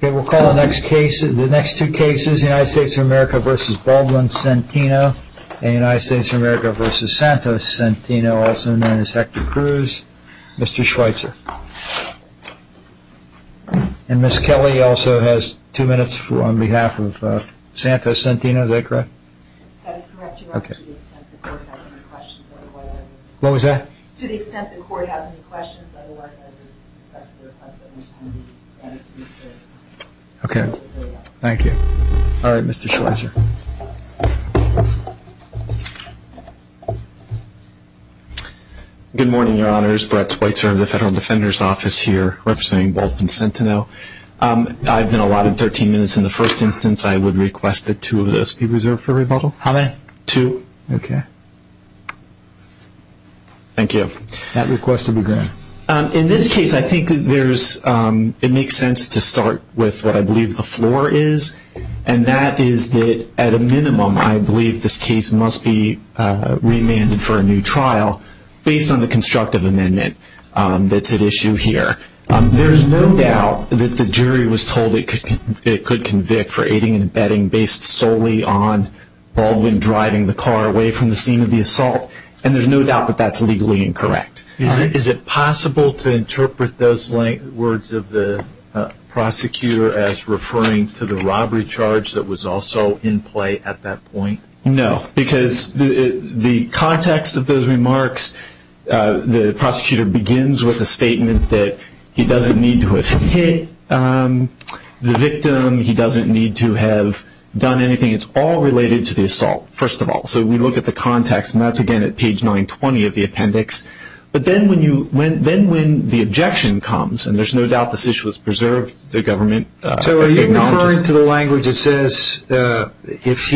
We'll call the next two cases United States of America v. Baldwin-Centeno and United States of America v. Santos-Centeno, also known as Hector Cruz, Mr. Schweitzer. And Ms. Kelly also has two minutes on behalf of Santos-Centeno, is that correct? That is correct, Your Honor, to the extent the court has any questions. What was that? To the extent the court has any questions, otherwise I would respectfully request that Ms. Kelly be added to this hearing. Okay, thank you. All right, Mr. Schweitzer. Good morning, Your Honors. Brett Schweitzer of the Federal Defender's Office here representing Baldwin-Centeno. I've been allotted 13 minutes in the first instance. I would request that two of those be reserved for rebuttal. How many? Two. Okay. Thank you. That request will be granted. In this case, I think it makes sense to start with what I believe the floor is, and that is that at a minimum I believe this case must be remanded for a new trial based on the constructive amendment that's at issue here. There's no doubt that the jury was told it could convict for aiding and abetting based solely on Baldwin driving the car away from the scene of the assault, and there's no doubt that that's legally incorrect. All right. Is it possible to interpret those words of the prosecutor as referring to the robbery charge that was also in play at that point? No. Because the context of those remarks, the prosecutor begins with a statement that he doesn't need to have hit the victim. He doesn't need to have done anything. It's all related to the assault, first of all. So we look at the context, and that's, again, at page 920 of the appendix. But then when the objection comes, and there's no doubt this issue was preserved, the government acknowledges it. It's sent to the language, it says, if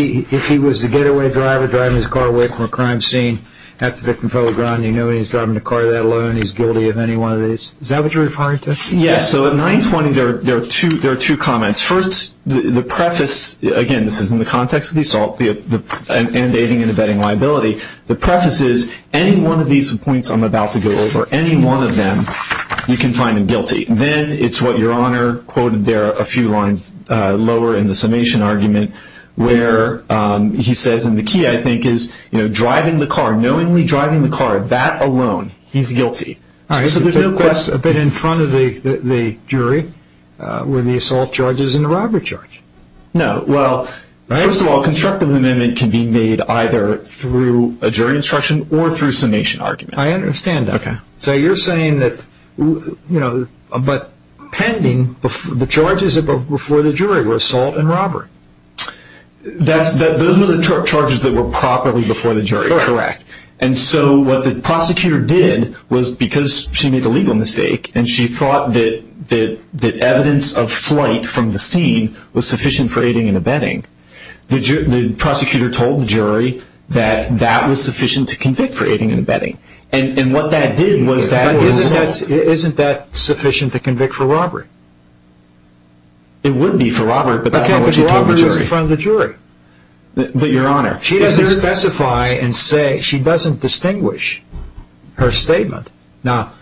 he was the getaway driver driving his car away from a crime scene, have the victim fell to the ground, you know he's driving the car that alone, he's guilty of any one of these. Is that what you're referring to? Yes. So at 920 there are two comments. First, the preface, again, this is in the context of the assault and aiding and abetting liability. The preface is, any one of these points I'm about to go over, any one of them, you can find him guilty. Then it's what Your Honor quoted there a few lines lower in the summation argument where he says, and the key, I think, is driving the car, knowingly driving the car, that alone, he's guilty. So there's no question. But in front of the jury were the assault charges and the robbery charge. No. Well, first of all, constructive amendment can be made either through a jury instruction or through summation argument. I understand that. Okay. So you're saying that, you know, but pending, the charges before the jury were assault and robbery. Those were the charges that were properly before the jury. Correct. Correct. And so what the prosecutor did was because she made the legal mistake and she thought that evidence of flight from the scene was sufficient for aiding and abetting, the prosecutor told the jury that that was sufficient to convict for aiding and abetting. And what that did was that was assault. But isn't that sufficient to convict for robbery? It would be for robbery, but that's not what she told the jury. But that's robbery in front of the jury. But Your Honor, she doesn't specify and say, she doesn't distinguish her statement. Now,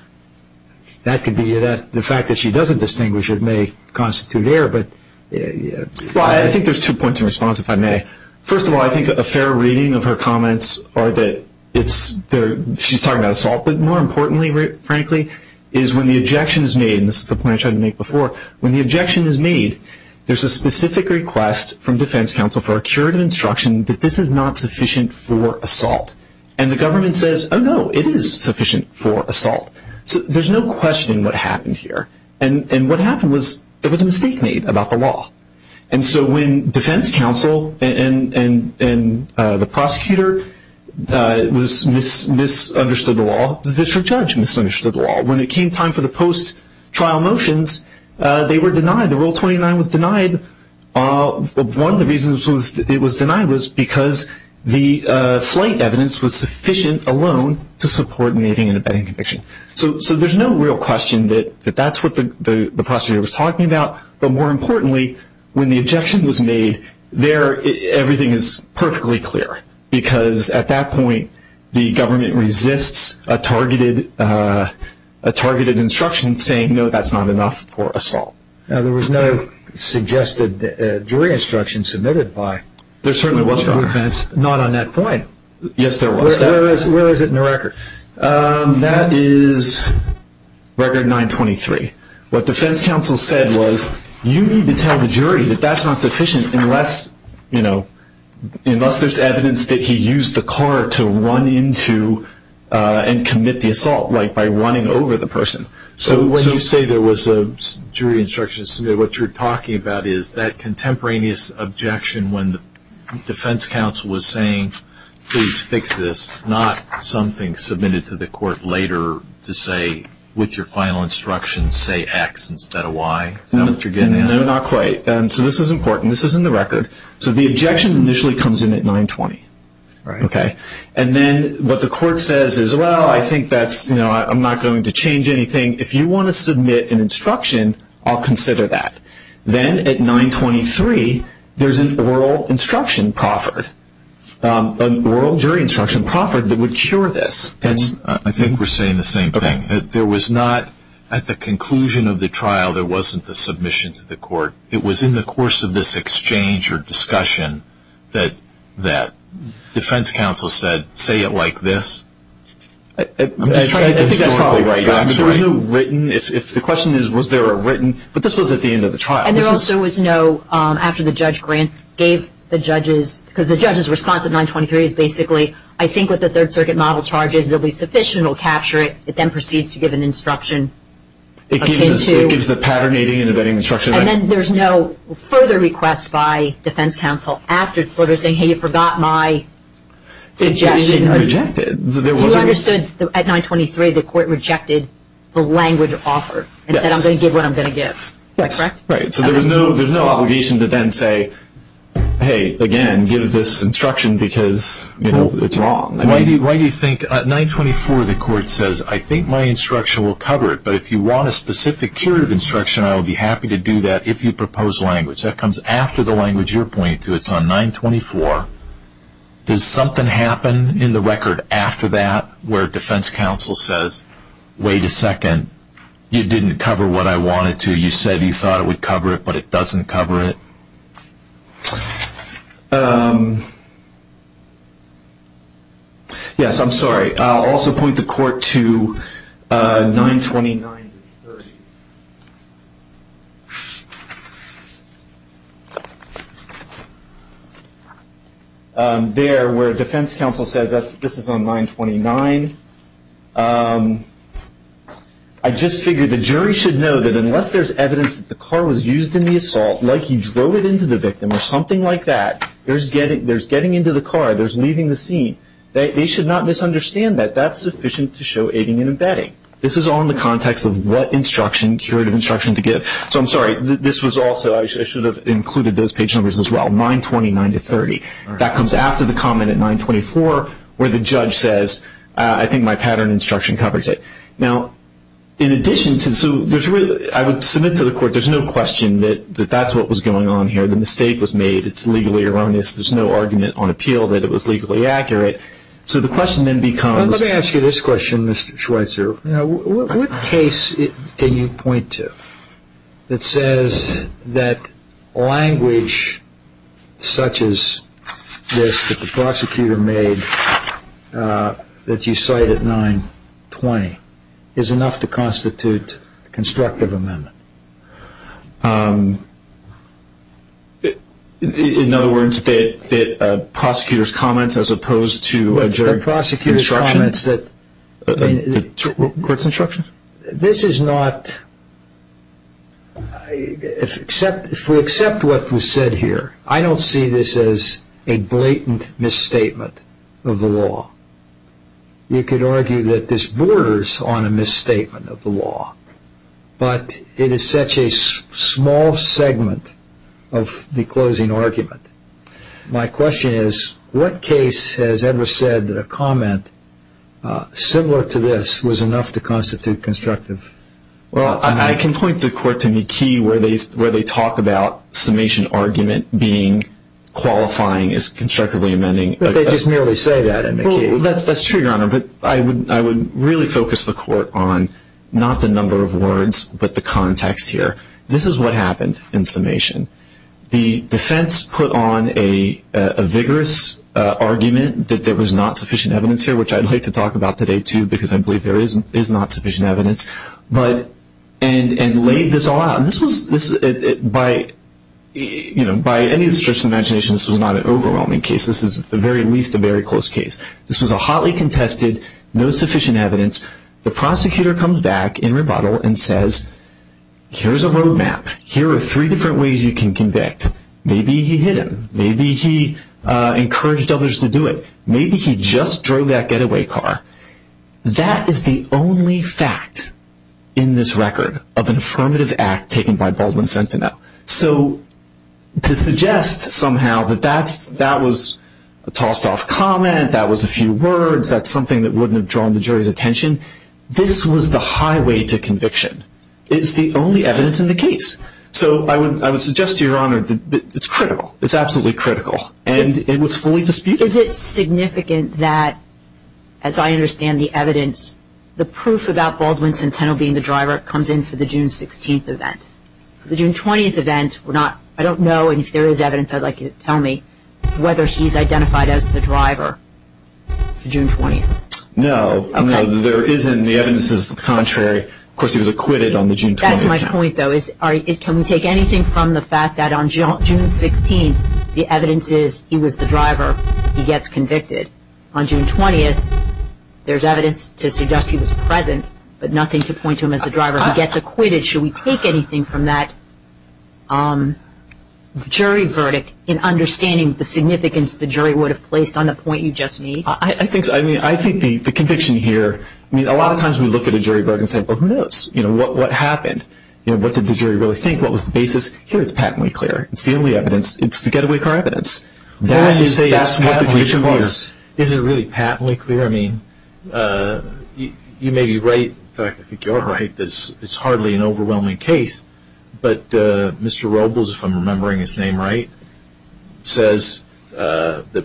that could be the fact that she doesn't distinguish it may constitute error, but... Well, I think there's two points in response, if I may. First of all, I think a fair reading of her comments are that she's talking about assault, but more importantly, frankly, is when the objection is made, and this is the point I tried to make before, when the objection is made, there's a specific request from defense counsel for a curative instruction that this is not sufficient for assault. And the government says, oh, no, it is sufficient for assault. So there's no questioning what happened here. And what happened was there was a mistake made about the law. And so when defense counsel and the prosecutor misunderstood the law, the district judge misunderstood the law. When it came time for the post-trial motions, they were denied. The Rule 29 was denied. One of the reasons it was denied was because the slight evidence was sufficient alone to support making an abetting conviction. So there's no real question that that's what the prosecutor was talking about. But more importantly, when the objection was made, everything is perfectly clear, because at that point the government resists a targeted instruction saying, no, that's not enough for assault. Now, there was no suggested jury instruction submitted by the judge. There certainly was no defense. Not on that point. Yes, there was. Where is it in the record? That is record 923. What defense counsel said was, you need to tell the jury that that's not sufficient unless, you know, unless there's evidence that he used the car to run into and commit the assault, like by running over the person. So when you say there was a jury instruction submitted, what you're talking about is that contemporaneous objection when the defense counsel was saying, please fix this, not something submitted to the court later to say, with your final instruction, say X instead of Y. Is that what you're getting at? No, not quite. So this is important. This is in the record. So the objection initially comes in at 920. And then what the court says is, well, I think that's, you know, I'm not going to change anything. If you want to submit an instruction, I'll consider that. Then at 923, there's an oral instruction proffered, an oral jury instruction proffered that would cure this. I think we're saying the same thing. There was not, at the conclusion of the trial, there wasn't the submission to the court. It was in the course of this exchange or discussion that defense counsel said, say it like this. I think that's probably right. There was no written, if the question is was there a written, but this was at the end of the trial. And there also was no, after the judge grant, gave the judges, because the judge's response at 923 is basically, I think with the Third Circuit model charges, it'll be sufficient, we'll capture it. It then proceeds to give an instruction. It gives the pattern aiding and abetting instruction. And then there's no further request by defense counsel after the court is saying, hey, you forgot my suggestion. It was rejected. You understood at 923 the court rejected the language offered and said, I'm going to give what I'm going to give. Yes. Right, so there's no obligation to then say, hey, again, give this instruction because it's wrong. Why do you think at 924 the court says, I think my instruction will cover it, but if you want a specific curative instruction, I'll be happy to do that if you propose language. That comes after the language you're pointing to. It's on 924. Does something happen in the record after that where defense counsel says, wait a second, you didn't cover what I wanted to, you said you thought it would cover it, but it doesn't cover it? Yes, I'm sorry. I'll also point the court to 929. There, where defense counsel says, this is on 929. I just figured the jury should know that unless there's evidence that the car was used in the assault, like he drove it into the victim or something like that, there's getting into the car, there's leaving the scene. They should not misunderstand that. That's sufficient to show aiding and abetting. This is all in the context of what instruction, curative instruction to give. So I'm sorry, this was also, I should have included those page numbers as well, 929 to 30. That comes after the comment at 924 where the judge says, I think my pattern instruction covers it. Now, in addition to, I would submit to the court there's no question that that's what was going on here. The mistake was made. It's legally erroneous. There's no argument on appeal that it was legally accurate. So the question then becomes. Let me ask you this question, Mr. Schweitzer. What case can you point to that says that language such as this that the prosecutor made that you cite at 920 is enough to constitute constructive amendment? In other words, the prosecutor's comments as opposed to jury instruction? The prosecutor's comments that. The court's instruction? This is not, if we accept what was said here, I don't see this as a blatant misstatement of the law. You could argue that this borders on a misstatement of the law. But it is such a small segment of the closing argument. My question is, what case has ever said that a comment similar to this was enough to constitute constructive? Well, I can point the court to McKee where they talk about summation argument being qualifying as constructively amending. But they just merely say that in McKee. That's true, Your Honor, but I would really focus the court on not the number of words but the context here. This is what happened in summation. The defense put on a vigorous argument that there was not sufficient evidence here, which I'd like to talk about today too because I believe there is not sufficient evidence, and laid this all out. By any stretch of the imagination, this was not an overwhelming case. This is at the very least a very close case. This was a hotly contested, no sufficient evidence. The prosecutor comes back in rebuttal and says, here's a road map. Here are three different ways you can convict. Maybe he hid them. Maybe he encouraged others to do it. Maybe he just drove that getaway car. That is the only fact in this record of an affirmative act taken by Baldwin Sentinel. So to suggest somehow that that was a tossed-off comment, that was a few words, that's something that wouldn't have drawn the jury's attention, this was the highway to conviction. It's the only evidence in the case. So I would suggest to Your Honor that it's critical. It's absolutely critical, and it was fully disputed. Is it significant that, as I understand the evidence, the proof about Baldwin Sentinel being the driver comes in for the June 16th event? The June 20th event, I don't know, and if there is evidence I'd like you to tell me, whether he's identified as the driver for June 20th. No, there isn't. The evidence is contrary. Of course, he was acquitted on the June 20th. That's my point, though. Can we take anything from the fact that on June 16th the evidence is he was the driver, he gets convicted? On June 20th, there's evidence to suggest he was present, but nothing to point to him as the driver. If he gets acquitted, should we take anything from that jury verdict in understanding the significance the jury would have placed on the point you just made? I think the conviction here, I mean, a lot of times we look at a jury verdict and say, well, who knows, you know, what happened? What did the jury really think? What was the basis? Here it's patently clear. It's the only evidence. It's the getaway car evidence. That's what the conviction was. Is it really patently clear? I mean, you may be right. In fact, I think you're right. It's hardly an overwhelming case, but Mr. Robles, if I'm remembering his name right, says that,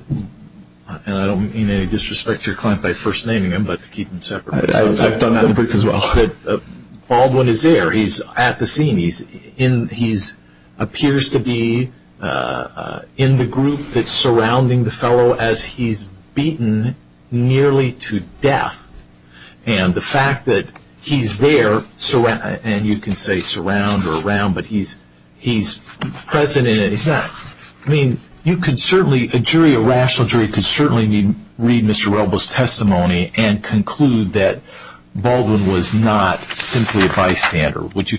and I don't mean any disrespect to your client by first naming him, but to keep him separate. I've done that in the book as well. Baldwin is there. He's at the scene. He appears to be in the group that's surrounding the fellow as he's beaten nearly to death, and the fact that he's there, and you can say surround or around, but he's present. I mean, you could certainly, a jury, a rational jury could certainly read Mr. Robles' testimony and conclude that Baldwin was not simply a bystander. Would you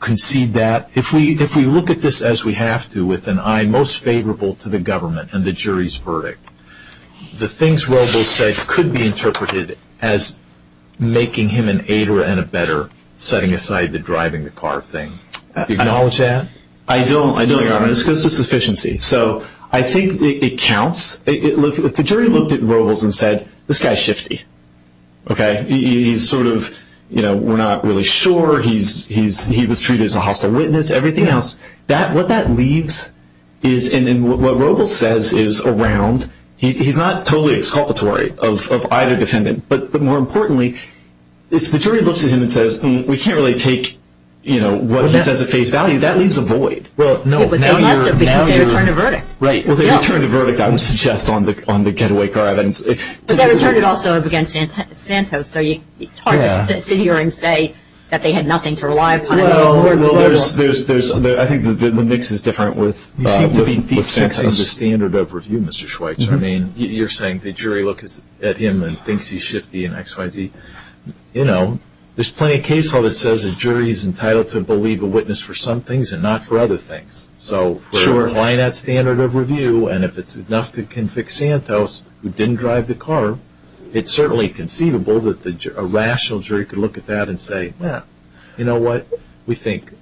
concede that? If we look at this as we have to with an eye most favorable to the government and the jury's verdict, the things Robles said could be interpreted as making him an aider and a better setting aside the driving the car thing. Do you acknowledge that? I don't, Your Honor. It's just a sufficiency. So I think it counts. If the jury looked at Robles and said, this guy's shifty. He's sort of, you know, we're not really sure. He was treated as a hostile witness, everything else. What that leaves is, and what Robles says is around, he's not totally exculpatory of either defendant, but more importantly, if the jury looks at him and says, we can't really take what he says at face value, that leaves a void. Well, no. But they must have because they returned a verdict. Right. Well, they returned a verdict, I would suggest, on the getaway car. But they returned it also against Santos. So it's hard to sit here and say that they had nothing to rely upon. Well, I think the mix is different with fixing the standard of review, Mr. Schweitzer. I mean, you're saying the jury looks at him and thinks he's shifty and X, Y, Z. You know, there's plenty of case law that says a jury is entitled to believe a witness for some things and not for other things. Sure. By that standard of review, and if it's enough to convict Santos who didn't drive the car, it's certainly conceivable that a rational jury could look at that and say, well, you know what? We think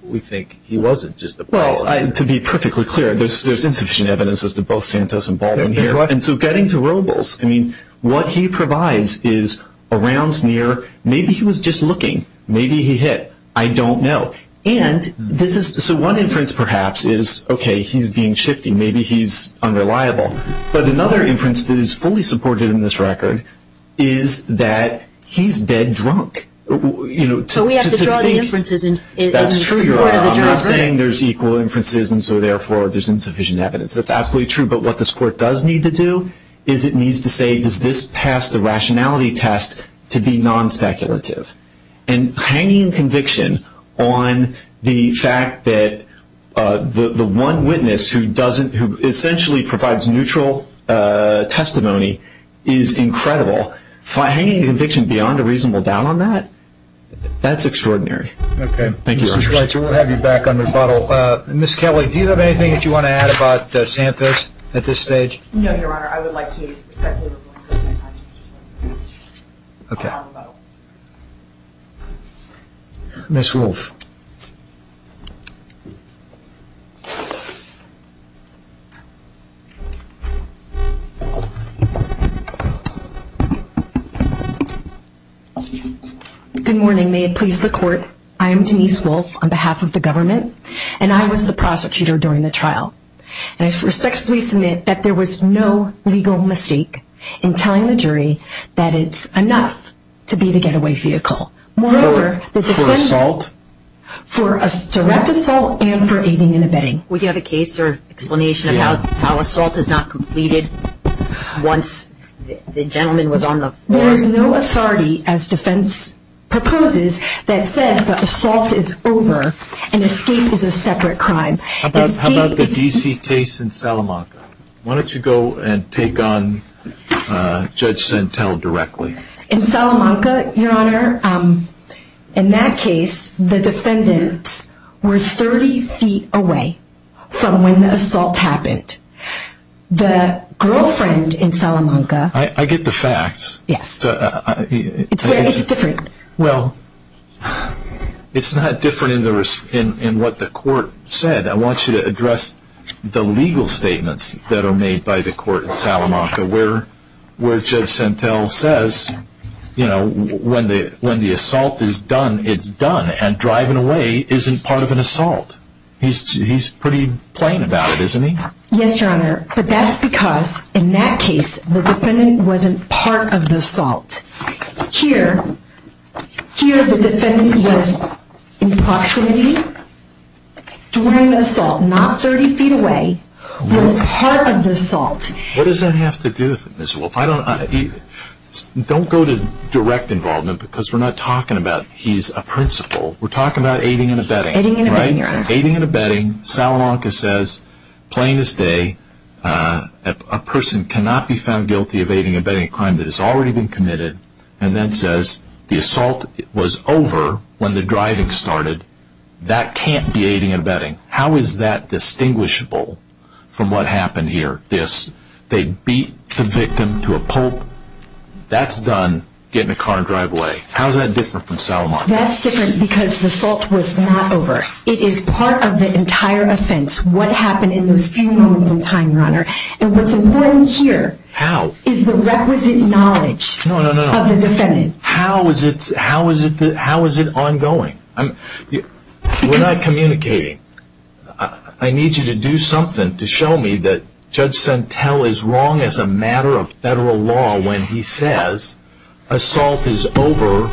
he wasn't just the boss. Well, to be perfectly clear, there's insufficient evidence as to both Santos and Baldwin here. And so getting to Robles, I mean, what he provides is around, near, maybe he was just looking. Maybe he hit. I don't know. So one inference, perhaps, is, okay, he's being shifty. Maybe he's unreliable. But another inference that is fully supported in this record is that he's dead drunk. So we have to draw the inferences in support of the jury. That's true. You're not saying there's equal inferences and so, therefore, there's insufficient evidence. That's absolutely true. But what this Court does need to do is it needs to say, does this pass the rationality test to be non-speculative? And hanging conviction on the fact that the one witness who essentially provides neutral testimony is incredible. Hanging conviction beyond a reasonable doubt on that, that's extraordinary. Thank you, Your Honor. Mr. Schweitzer, we'll have you back on rebuttal. Ms. Kelly, do you have anything that you want to add about Santos at this stage? No, Your Honor. Your Honor, I would like to respectfully rebuttal. Ms. Wolfe. Good morning. May it please the Court. I am Denise Wolfe on behalf of the government, and I was the prosecutor during the trial. And I respectfully submit that there was no legal mistake in telling the jury that it's enough to be the getaway vehicle. For assault? For direct assault and for aiding and abetting. Would you have a case or explanation of how assault is not completed once the gentleman was on the floor? There is no authority, as defense proposes, that says that assault is over and escape is a separate crime. How about the D.C. case in Salamanca? Why don't you go and take on Judge Santel directly? In Salamanca, Your Honor, in that case, the defendants were 30 feet away from when the assault happened. The girlfriend in Salamanca... I get the facts. Yes. It's different. Well, it's not different in what the court said. I want you to address the legal statements that are made by the court in Salamanca, where Judge Santel says, you know, when the assault is done, it's done. And driving away isn't part of an assault. He's pretty plain about it, isn't he? Yes, Your Honor. But that's because in that case, the defendant wasn't part of the assault. Here, the defendant was in proximity during the assault, not 30 feet away. He was part of the assault. What does that have to do with this? Don't go to direct involvement because we're not talking about he's a principal. We're talking about aiding and abetting. Aiding and abetting. Salamanca says, plain as day, a person cannot be found guilty of aiding and abetting a crime that has already been committed, and then says the assault was over when the driving started. That can't be aiding and abetting. How is that distinguishable from what happened here? They beat the victim to a pulp. That's done getting a car and driving away. How is that different from Salamanca? That's different because the assault was not over. It is part of the entire offense, what happened in those few moments in time, Your Honor. And what's important here is the requisite knowledge of the defendant. How is it ongoing? We're not communicating. I need you to do something to show me that Judge Santel is wrong as a matter of federal law when he says assault is over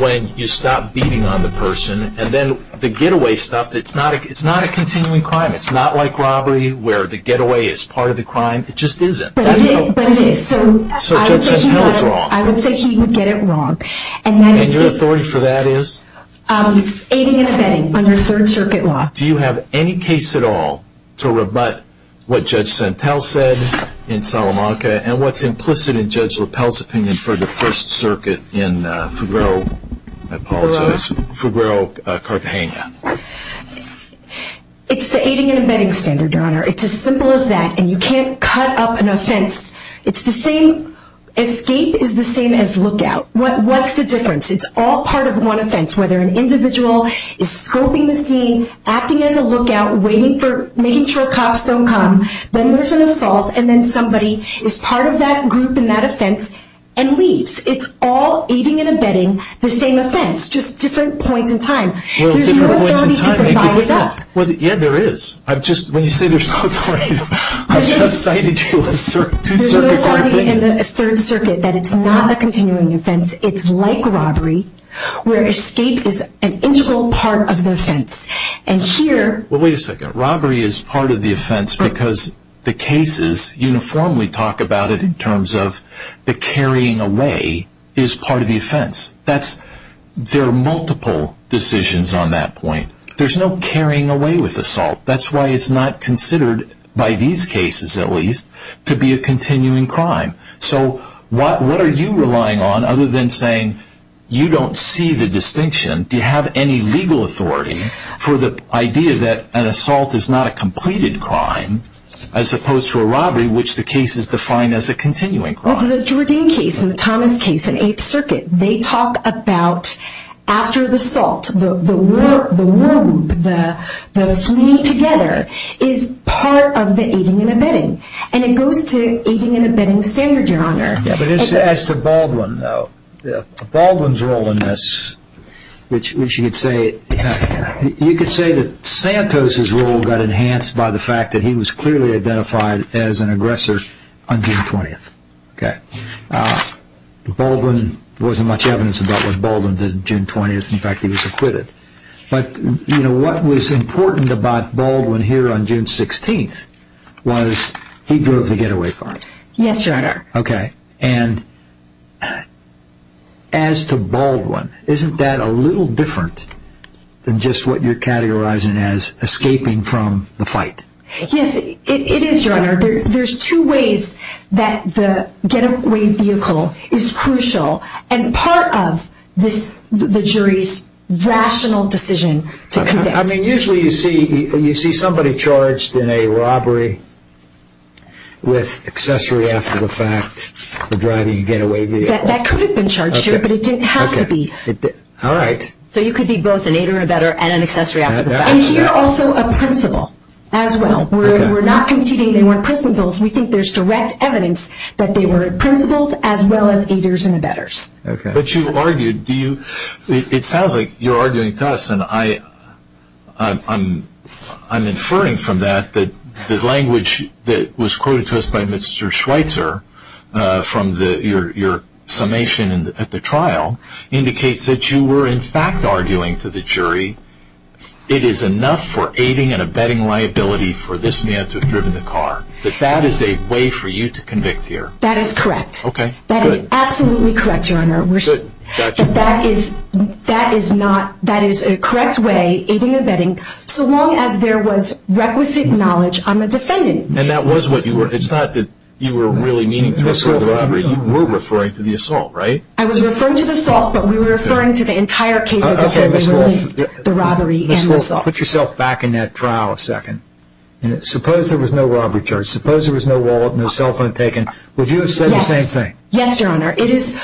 when you stop beating on the person. And then the getaway stuff, it's not a continuing crime. It's not like robbery where the getaway is part of the crime. It just isn't. But it is. So Judge Santel is wrong. I would say he would get it wrong. And your authority for that is? Aiding and abetting under Third Circuit law. Do you have any case at all to rebut what Judge Santel said in Salamanca and what's implicit in Judge LaPelle's opinion for the First Circuit in Fugro, I apologize, Fugro, Cartagena? It's the aiding and abetting standard, Your Honor. It's as simple as that. And you can't cut up an offense. It's the same escape is the same as lookout. What's the difference? It's all part of one offense, whether an individual is scoping the scene, acting as a lookout, waiting for, making sure cops don't come, then there's an assault, and then somebody is part of that group in that offense and leaves. It's all aiding and abetting the same offense, just different points in time. There's no authority to divide it up. Yeah, there is. When you say there's no authority, I just cited you as a Third Circuit court witness. There's no authority in the Third Circuit that it's not a continuing offense. It's like robbery where escape is an integral part of the offense. And here... Well, wait a second. Robbery is part of the offense because the cases uniformly talk about it in terms of the carrying away is part of the offense. There are multiple decisions on that point. There's no carrying away with assault. That's why it's not considered, by these cases at least, to be a continuing crime. So what are you relying on other than saying you don't see the distinction? Do you have any legal authority for the idea that an assault is not a completed crime, as opposed to a robbery, which the case is defined as a continuing crime? With the Jourdain case and the Thomas case in Eighth Circuit, they talk about after the assault, the war group, the fleeing together, is part of the aiding and abetting. And it goes to aiding and abetting standard, Your Honor. But as to Baldwin, though, Baldwin's role in this, which you could say, you could say that Santos' role got enhanced by the fact that he was clearly identified as an aggressor on June 20th. Baldwin, there wasn't much evidence about what Baldwin did on June 20th. In fact, he was acquitted. But what was important about Baldwin here on June 16th was he drove the getaway car. Yes, Your Honor. Okay. And as to Baldwin, isn't that a little different than just what you're categorizing as escaping from the fight? Yes, it is, Your Honor. There's two ways that the getaway vehicle is crucial. And part of the jury's rational decision to convince. I mean, usually you see somebody charged in a robbery with accessory after the fact for driving a getaway vehicle. That could have been charged here, but it didn't have to be. All right. So you could be both an aider and abetter and an accessory after the fact. And here also a principal as well. We're not conceding they weren't principals. We think there's direct evidence that they were principals as well as aiders and abetters. But you argued, it sounds like you're arguing to us, and I'm inferring from that that the language that was quoted to us by Mr. Schweitzer from your summation at the trial indicates that you were in fact arguing to the jury it is enough for aiding and abetting liability for this man to have driven the car. That that is a way for you to convict here. That is correct. Okay, good. That is absolutely correct, Your Honor. Good, gotcha. But that is not, that is a correct way, aiding and abetting, so long as there was requisite knowledge on the defendant. And that was what you were, it's not that you were really meaning to assault the robbery. You were referring to the assault, right? I was referring to the assault, but we were referring to the entire case as it relates to the robbery and the assault. Okay, Ms. Wolf, put yourself back in that trial a second. Suppose there was no robbery charge, suppose there was no wallet, no cell phone taken, would you have said the same thing? Yes, Your Honor. It is,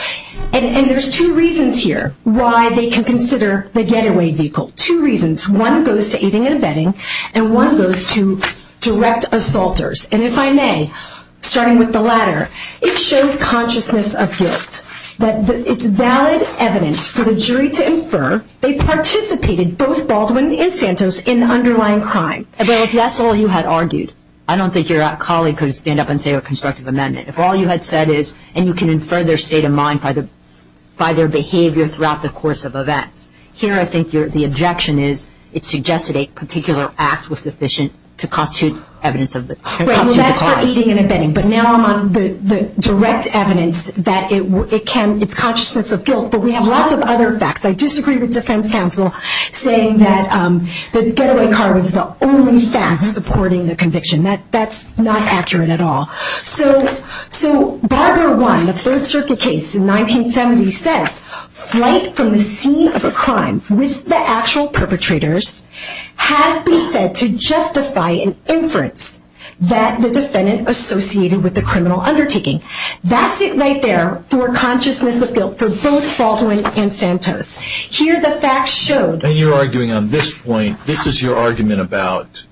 and there's two reasons here why they can consider the getaway vehicle. Two reasons. One goes to aiding and abetting, and one goes to direct assaulters. And if I may, starting with the latter, it shows consciousness of guilt. That it's valid evidence for the jury to infer they participated, both Baldwin and Santos, in the underlying crime. Well, if that's all you had argued, I don't think your colleague could stand up and say a constructive amendment. If all you had said is, and you can infer their state of mind by their behavior throughout the course of events, here I think the objection is it suggested a particular act was sufficient to constitute evidence of the crime. Well, that's for aiding and abetting. But now I'm on the direct evidence that it can, it's consciousness of guilt, but we have lots of other facts. I disagree with defense counsel saying that the getaway car was the only fact supporting the conviction. That's not accurate at all. So Barbara 1, the Third Circuit case in 1970, says flight from the scene of a crime with the actual perpetrators has been said to justify an inference that the defendant associated with the criminal undertaking. That's it right there for consciousness of guilt for both Baldwin and Santos. Here the facts show. And you're arguing on this point, this is your argument about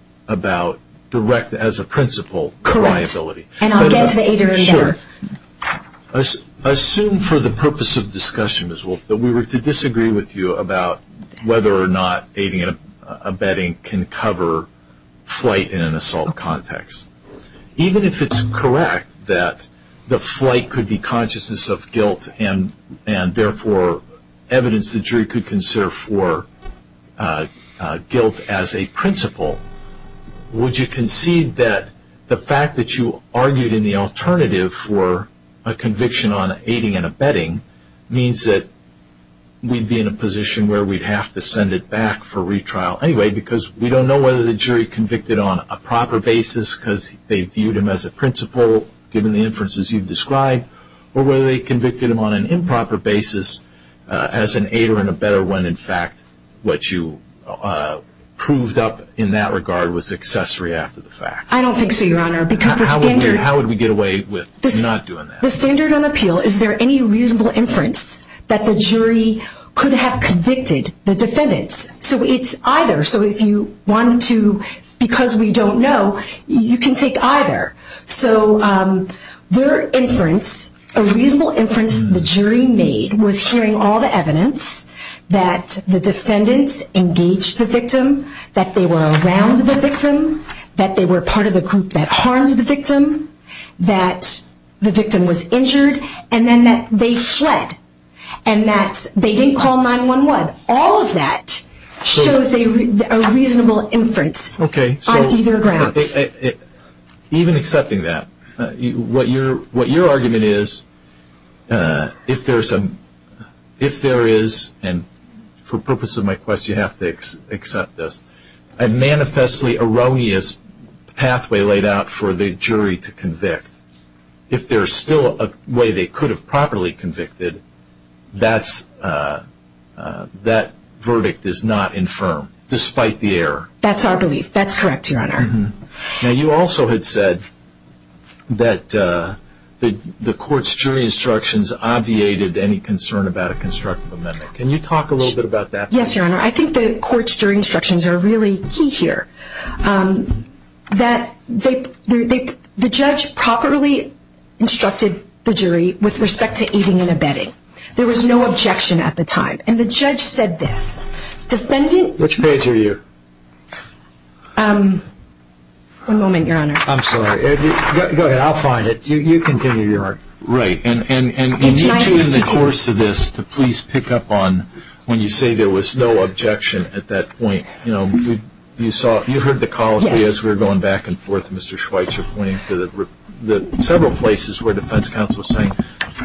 direct as a principle liability. Correct. And I'll get to the aiders later. Sure. Assume for the purpose of discussion, Ms. Wolf, that we were to disagree with you about whether or not aiding and abetting can cover flight in an assault context. Even if it's correct that the flight could be consciousness of guilt and therefore evidence the jury could consider for guilt as a principle, would you concede that the fact that you argued in the alternative for a conviction on aiding and abetting means that we'd be in a position where we'd have to send it back for retrial anyway because we don't know whether the jury convicted on a proper basis because they viewed him as a principle given the inferences you've described, or whether they convicted him on an improper basis as an aider and abetter when in fact what you proved up in that regard was accessory after the fact. I don't think so, Your Honor. How would we get away with not doing that? The standard on appeal, is there any reasonable inference that the jury could have convicted the defendants? So it's either. So if you wanted to, because we don't know, you can take either. So their inference, a reasonable inference the jury made, was hearing all the evidence that the defendants engaged the victim, that they were around the victim, that they were part of the group that harmed the victim, that the victim was injured, and then that they fled, and that they didn't call 911. All of that shows a reasonable inference on either grounds. Even accepting that, what your argument is, if there is, and for purpose of my question you have to accept this, a manifestly erroneous pathway laid out for the jury to convict, if there is still a way they could have properly convicted, that verdict is not infirm, despite the error. That's our belief. That's correct, Your Honor. Now you also had said that the court's jury instructions obviated any concern about a constructive amendment. Can you talk a little bit about that? Yes, Your Honor. I think the court's jury instructions are really key here. The judge properly instructed the jury with respect to eating and abetting. There was no objection at the time. And the judge said this. Which page are you? One moment, Your Honor. I'm sorry. Go ahead. I'll find it. You continue, Your Honor. Right. In June of the course of this, the police pick up on when you say there was no objection at that point. You heard the calls as we were going back and forth, Mr. Schweitzer, pointing to several places where defense counsel was saying,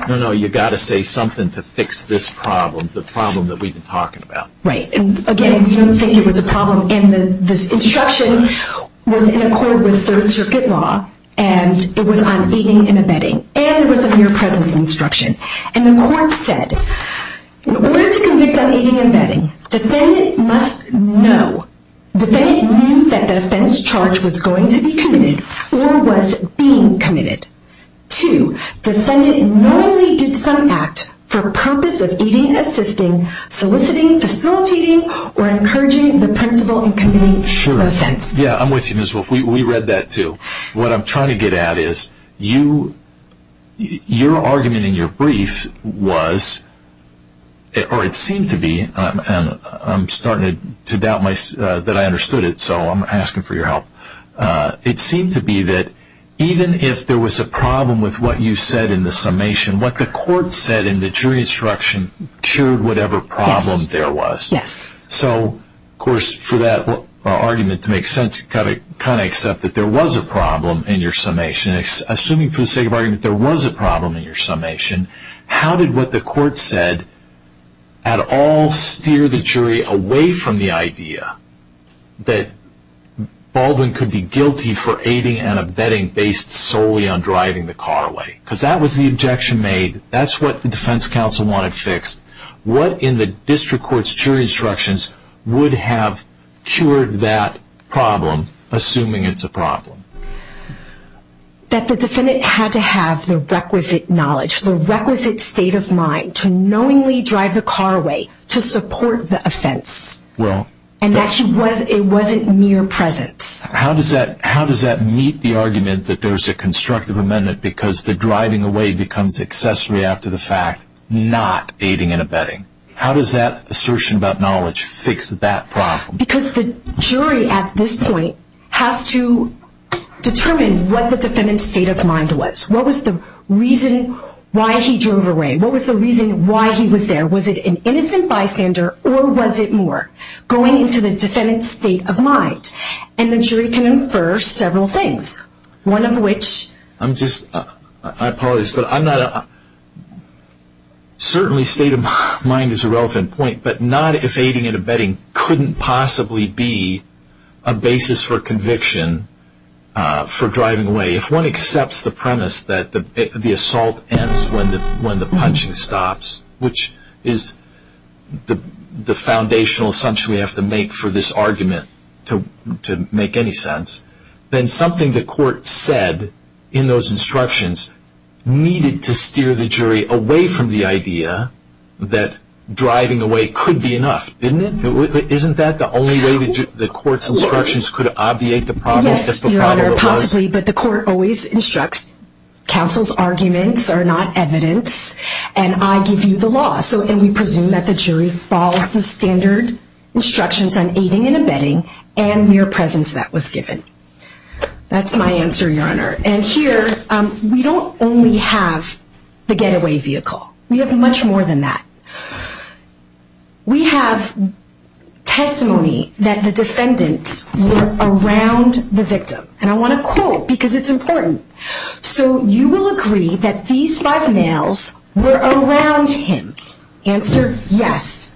no, no, you've got to say something to fix this problem, the problem that we've been talking about. Right. Again, we don't think it was a problem. And this instruction was in accord with Third Circuit law, and it was on eating and abetting. And it was a mere presence instruction. And the court said, we're going to convict on eating and abetting. Defendant must know. Defendant knew that the offense charge was going to be committed or was being committed. Two, defendant knowingly did some act for purpose of eating, assisting, soliciting, facilitating, or encouraging the principal in committing the offense. Sure. Yeah, I'm with you, Ms. Wolf. We read that too. What I'm trying to get at is your argument in your brief was, or it seemed to be, and I'm starting to doubt that I understood it, so I'm asking for your help. It seemed to be that even if there was a problem with what you said in the summation, what the court said in the jury instruction cured whatever problem there was. Yes. So, of course, for that argument to make sense, you've got to kind of accept that there was a problem in your summation. Assuming for the sake of argument there was a problem in your summation, how did what the court said at all steer the jury away from the idea that Baldwin could be guilty for aiding and abetting based solely on driving the car away? Because that was the objection made. That's what the defense counsel wanted fixed. What in the district court's jury instructions would have cured that problem, assuming it's a problem? That the defendant had to have the requisite knowledge, the requisite state of mind to knowingly drive the car away to support the offense, and that it wasn't mere presence. How does that meet the argument that there's a constructive amendment because the driving away becomes accessory after the fact, not aiding and abetting? How does that assertion about knowledge fix that problem? Because the jury at this point has to determine what the defendant's state of mind was. What was the reason why he drove away? What was the reason why he was there? Was it an innocent bystander, or was it more? Going into the defendant's state of mind. And the jury can infer several things, one of which... I'm just... My apologies, but I'm not... Certainly state of mind is a relevant point, but not if aiding and abetting couldn't possibly be a basis for conviction for driving away. If one accepts the premise that the assault ends when the punching stops, which is the foundational assumption we have to make for this argument to make any sense, then something the court said in those instructions needed to It could be enough, didn't it? Isn't that the only way the court's instructions could obviate the problem? Yes, Your Honor, possibly, but the court always instructs, counsel's arguments are not evidence, and I give you the law. And we presume that the jury follows the standard instructions on aiding and abetting and mere presence that was given. That's my answer, Your Honor. And here we don't only have the getaway vehicle. We have much more than that. We have testimony that the defendants were around the victim. And I want to quote because it's important. So you will agree that these five males were around him. Answer, yes.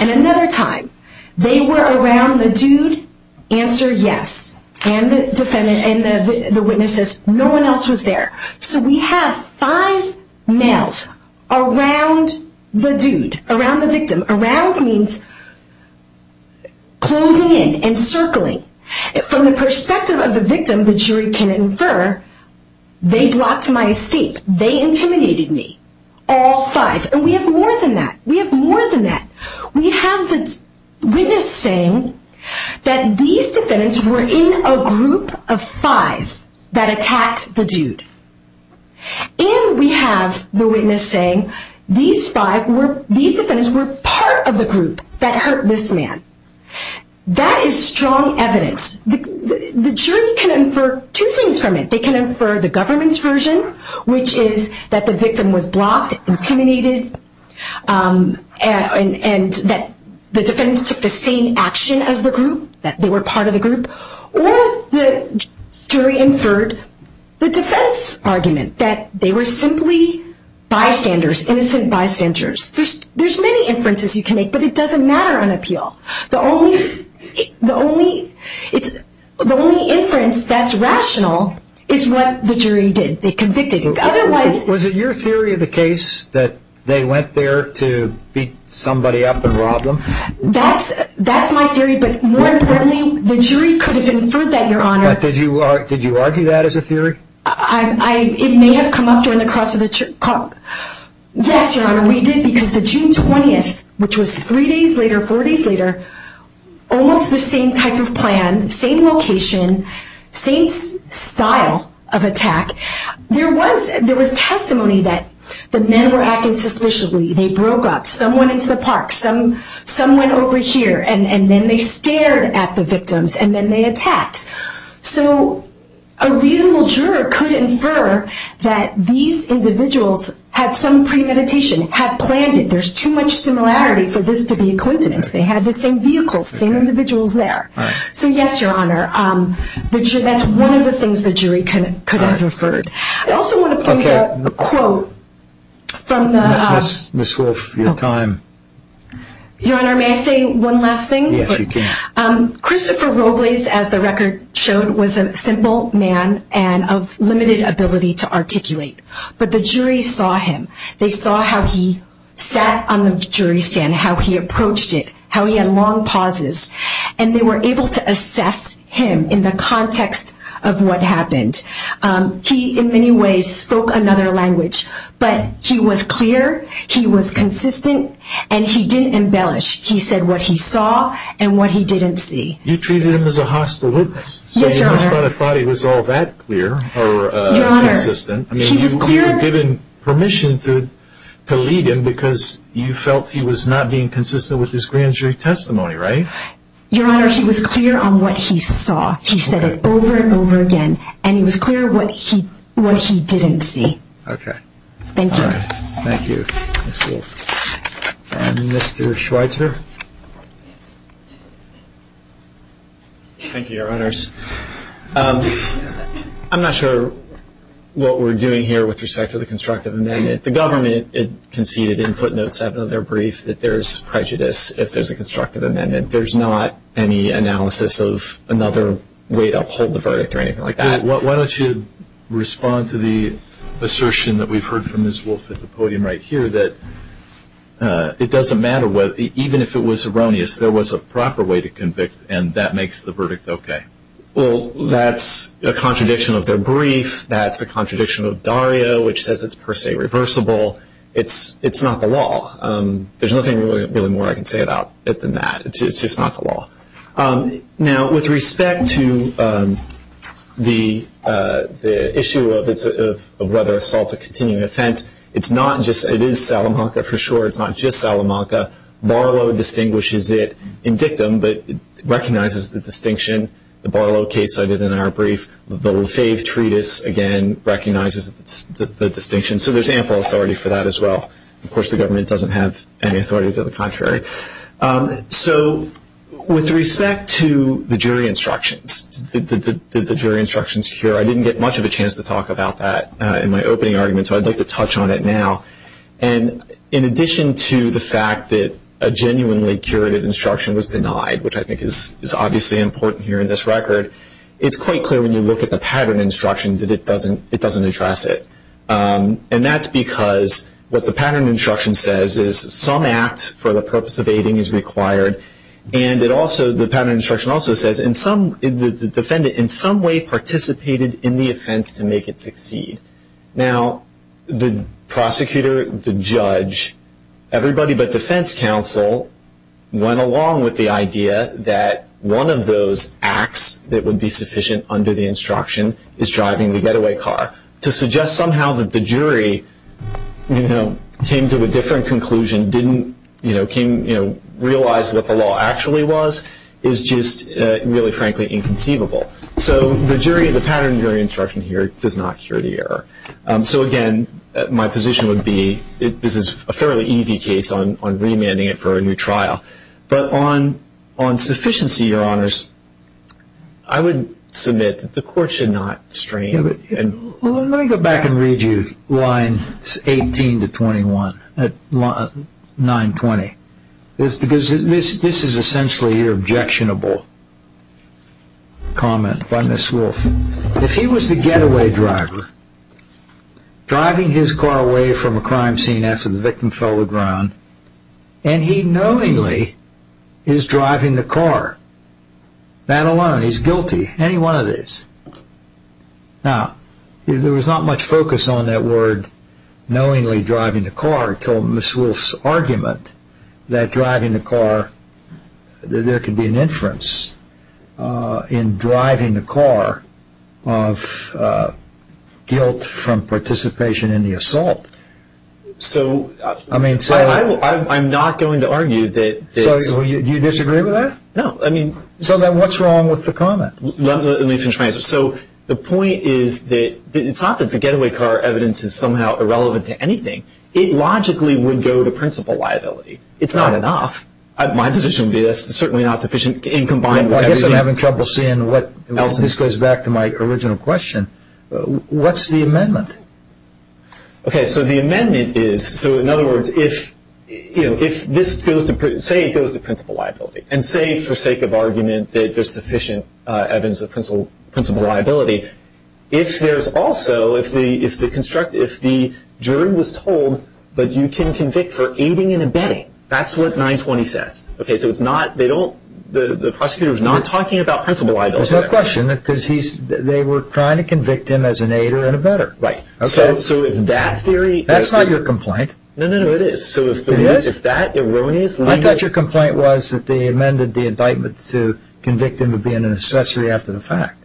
And another time, they were around the dude. Answer, yes. And the witness says, no one else was there. So we have five males around the dude, around the victim. Around means closing in and circling. From the perspective of the victim, the jury can infer, they blocked my escape. They intimidated me. All five. And we have more than that. We have more than that. We have the witness saying that these defendants were in a group of five that attacked the dude. And we have the witness saying these defendants were part of the group that hurt this man. That is strong evidence. The jury can infer two things from it. They can infer the government's version, which is that the victim was blocked, intimidated, and that the defendants took the same action as the group, that they were part of the group. Or the jury inferred the defense argument, that they were simply bystanders, innocent bystanders. There's many inferences you can make, but it doesn't matter on appeal. The only inference that's rational is what the jury did. They convicted him. Was it your theory of the case that they went there to beat somebody up and rob them? That's my theory. But more importantly, the jury could have inferred that, Your Honor. Did you argue that as a theory? It may have come up during the cross of the court. Yes, Your Honor, we did. Because the June 20th, which was three days later, four days later, almost the same type of plan, same location, same style of attack. There was testimony that the men were acting suspiciously. They broke up. Some went into the park. Some went over here. And then they stared at the victims, and then they attacked. So a reasonable juror could infer that these individuals had some premeditation, had planned it. There's too much similarity for this to be a coincidence. They had the same vehicles, same individuals there. So, yes, Your Honor, that's one of the things the jury could have inferred. I also want to point out a quote from the… Ms. Wolfe, your time. Your Honor, may I say one last thing? Yes, you can. Christopher Robles, as the record showed, was a simple man and of limited ability to articulate. But the jury saw him. They saw how he sat on the jury stand, how he approached it, how he had long pauses. And they were able to assess him in the context of what happened. He, in many ways, spoke another language. But he was clear, he was consistent, and he didn't embellish. He said what he saw and what he didn't see. You treated him as a hostile witness. Yes, Your Honor. So you must have thought he was all that clear or consistent. Your Honor, he was clear. I mean, you were given permission to lead him because you felt he was not being consistent with his grand jury testimony, right? Your Honor, he was clear on what he saw. He said it over and over again. And he was clear what he didn't see. Okay. Thank you. Thank you, Ms. Wolf. Mr. Schweitzer. Thank you, Your Honors. I'm not sure what we're doing here with respect to the constructive amendment. The government conceded in footnote 7 of their brief that there is prejudice if there's a constructive amendment. There's not any analysis of another way to uphold the verdict or anything like that. Why don't you respond to the assertion that we've heard from Ms. Wolf at the podium right here that it doesn't matter, even if it was erroneous, there was a proper way to convict and that makes the verdict okay. Well, that's a contradiction of their brief. That's a contradiction of Dario, which says it's per se reversible. It's not the law. There's nothing really more I can say about it than that. It's just not the law. Now, with respect to the issue of whether assault is a continuing offense, it is Salamanca for sure. It's not just Salamanca. Barlow distinguishes it in dictum but recognizes the distinction. The Barlow case cited in our brief, the Lefebvre Treatise, again, recognizes the distinction. So there's ample authority for that as well. Of course, the government doesn't have any authority to the contrary. So with respect to the jury instructions, did the jury instructions cure? I didn't get much of a chance to talk about that in my opening argument, so I'd like to touch on it now. And in addition to the fact that a genuinely curated instruction was denied, which I think is obviously important here in this record, it's quite clear when you look at the pattern instruction that it doesn't address it. And that's because what the pattern instruction says is some act for the purpose of aiding is required. And the pattern instruction also says the defendant in some way participated in the offense to make it succeed. Now, the prosecutor, the judge, everybody but defense counsel, went along with the idea that one of those acts that would be sufficient under the instruction is driving the getaway car. To suggest somehow that the jury came to a different conclusion, didn't realize what the law actually was, is just really, frankly, inconceivable. So the jury, the pattern jury instruction here does not cure the error. So again, my position would be this is a fairly easy case on remanding it for a new trial. But on sufficiency, your honors, I would submit that the court should not strain. Let me go back and read you line 18 to 21, line 920. This is essentially your objectionable comment by Ms. Wolf. If he was the getaway driver driving his car away from a crime scene after the victim fell to the ground and he knowingly is driving the car, that alone, he's guilty, any one of these. Now, there was not much focus on that word knowingly driving the car until Ms. Wolf's argument that driving the car, that there could be an inference in driving the car of guilt from participation in the assault. So I'm not going to argue that. So you disagree with that? No. So then what's wrong with the comment? Let me finish my answer. So the point is that it's not that the getaway car evidence is somehow irrelevant to anything. It logically would go to principal liability. It's not enough. My position would be this is certainly not sufficient in combining. I guess I'm having trouble seeing what this goes back to my original question. What's the amendment? Okay, so the amendment is, so in other words, if this goes to principal liability and say for sake of argument that there's sufficient evidence of principal liability, if there's also, if the jury was told that you can convict for aiding and abetting, that's what 920 says. Okay, so it's not, they don't, the prosecutor is not talking about principal liability. There's no question because they were trying to convict him as an aider and abetter. Right. Okay. So if that theory. That's not your complaint. No, no, no, it is. It is? So if that erroneous amendment. I thought your complaint was that they amended the indictment to convict him of being an accessory after the fact.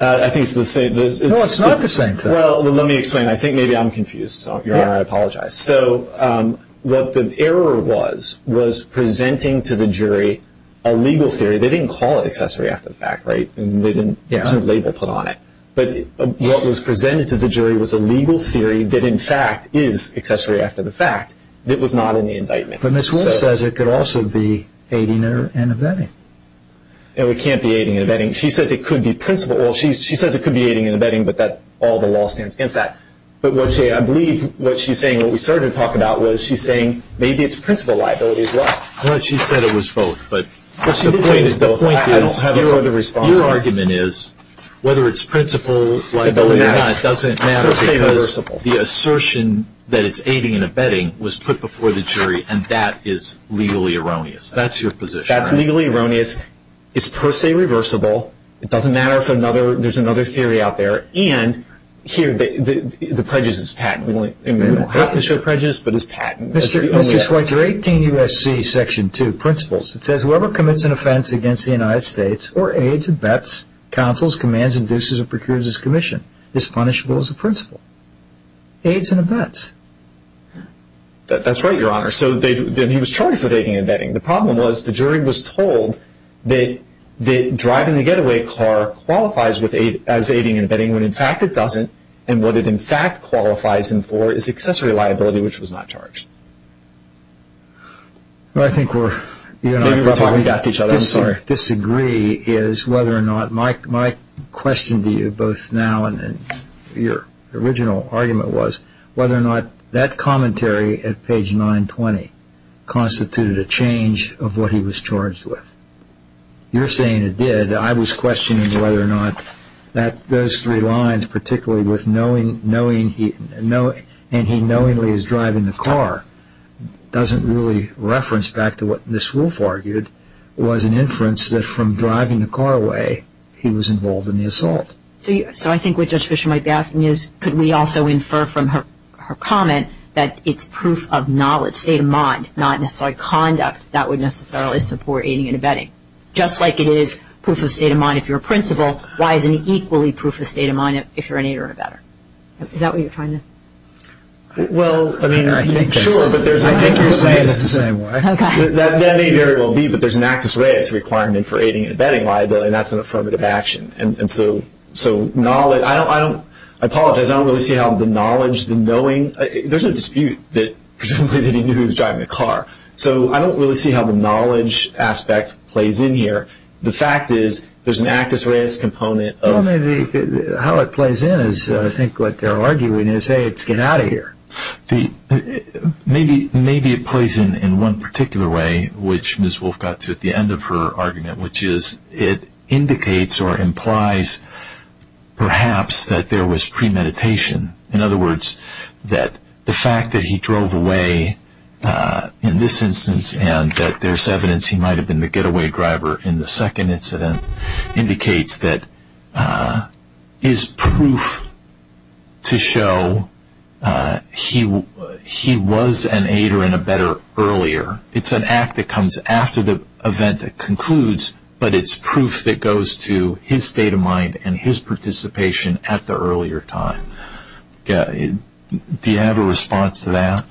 I think it's the same. No, it's not the same thing. Well, let me explain. I think maybe I'm confused. Your Honor, I apologize. So what the error was, was presenting to the jury a legal theory. They didn't call it accessory after the fact, right? And there's no label put on it. But what was presented to the jury was a legal theory that, in fact, is accessory after the fact. It was not in the indictment. But Ms. Wolf says it could also be aiding and abetting. No, it can't be aiding and abetting. She says it could be principal. Well, she says it could be aiding and abetting, but that, all the law stands against that. But what she, I believe what she's saying, what we started to talk about, was she's saying maybe it's principal liability as well. Well, she said it was both, but. Well, she did say it was both. I don't have a. Your argument is. Whether it's principal liability or not. It doesn't matter. It's per se reversible. Because the assertion that it's aiding and abetting was put before the jury, and that is legally erroneous. That's your position. That's legally erroneous. It's per se reversible. It doesn't matter if there's another theory out there. And here, the prejudice is patent. We don't have to show prejudice, but it's patent. Mr. Schweitzer, 18 U.S.C., Section 2, Principles. It says whoever commits an offense against the United States or aids and abets, counsels, commands, induces, or procures its commission is punishable as a principal. Aids and abets. That's right, Your Honor. So then he was charged with aiding and abetting. The problem was the jury was told that driving the getaway car qualifies as aiding and abetting, when in fact it doesn't, and what it in fact qualifies him for is accessory liability, which was not charged. Well, I think we're... Maybe we're talking after each other. I'm sorry. What I disagree is whether or not my question to you both now and your original argument was whether or not that commentary at page 920 constituted a change of what he was charged with. You're saying it did. I was questioning whether or not those three lines, particularly with knowingly he's driving the car, doesn't really reference back to what Ms. Wolff argued was an inference that from driving the car away, he was involved in the assault. So I think what Judge Fisher might be asking is could we also infer from her comment that it's proof of knowledge, state of mind, not necessarily conduct that would necessarily support aiding and abetting. Just like it is proof of state of mind if you're a principal, why is it equally proof of state of mind if you're an aider or abetter? Is that what you're trying to... Well, I mean, sure, but there's... I think you're saying it's the same way. Okay. That may very well be, but there's an actus reus requirement for aiding and abetting liability, and that's an affirmative action. And so knowledge... I don't... I apologize. I don't really see how the knowledge, the knowing... There's a dispute that presumably he knew he was driving the car. So I don't really see how the knowledge aspect plays in here. The fact is there's an actus reus component of... Well, maybe how it plays in is I think what they're arguing is, hey, let's get out of here. Maybe it plays in one particular way, which Ms. Wolfe got to at the end of her argument, which is it indicates or implies perhaps that there was premeditation. In other words, that the fact that he drove away in this instance and that there's evidence he might have been the getaway driver in the second incident indicates that is proof to show he was an aider and abetter earlier. It's an act that comes after the event that concludes, but it's proof that goes to his state of mind and his participation at the earlier time. Do you have a response to that?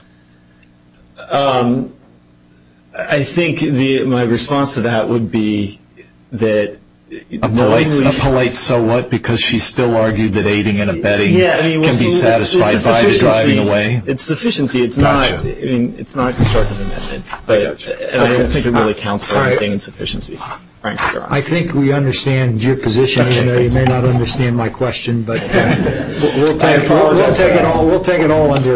I think my response to that would be that... A polite so what because she still argued that aiding and abetting can be satisfied by the driving away. It's sufficiency. It's not a constructive amendment. I don't think it really counts for anything in sufficiency. I think we understand your position. You may not understand my question, but we'll take it all under...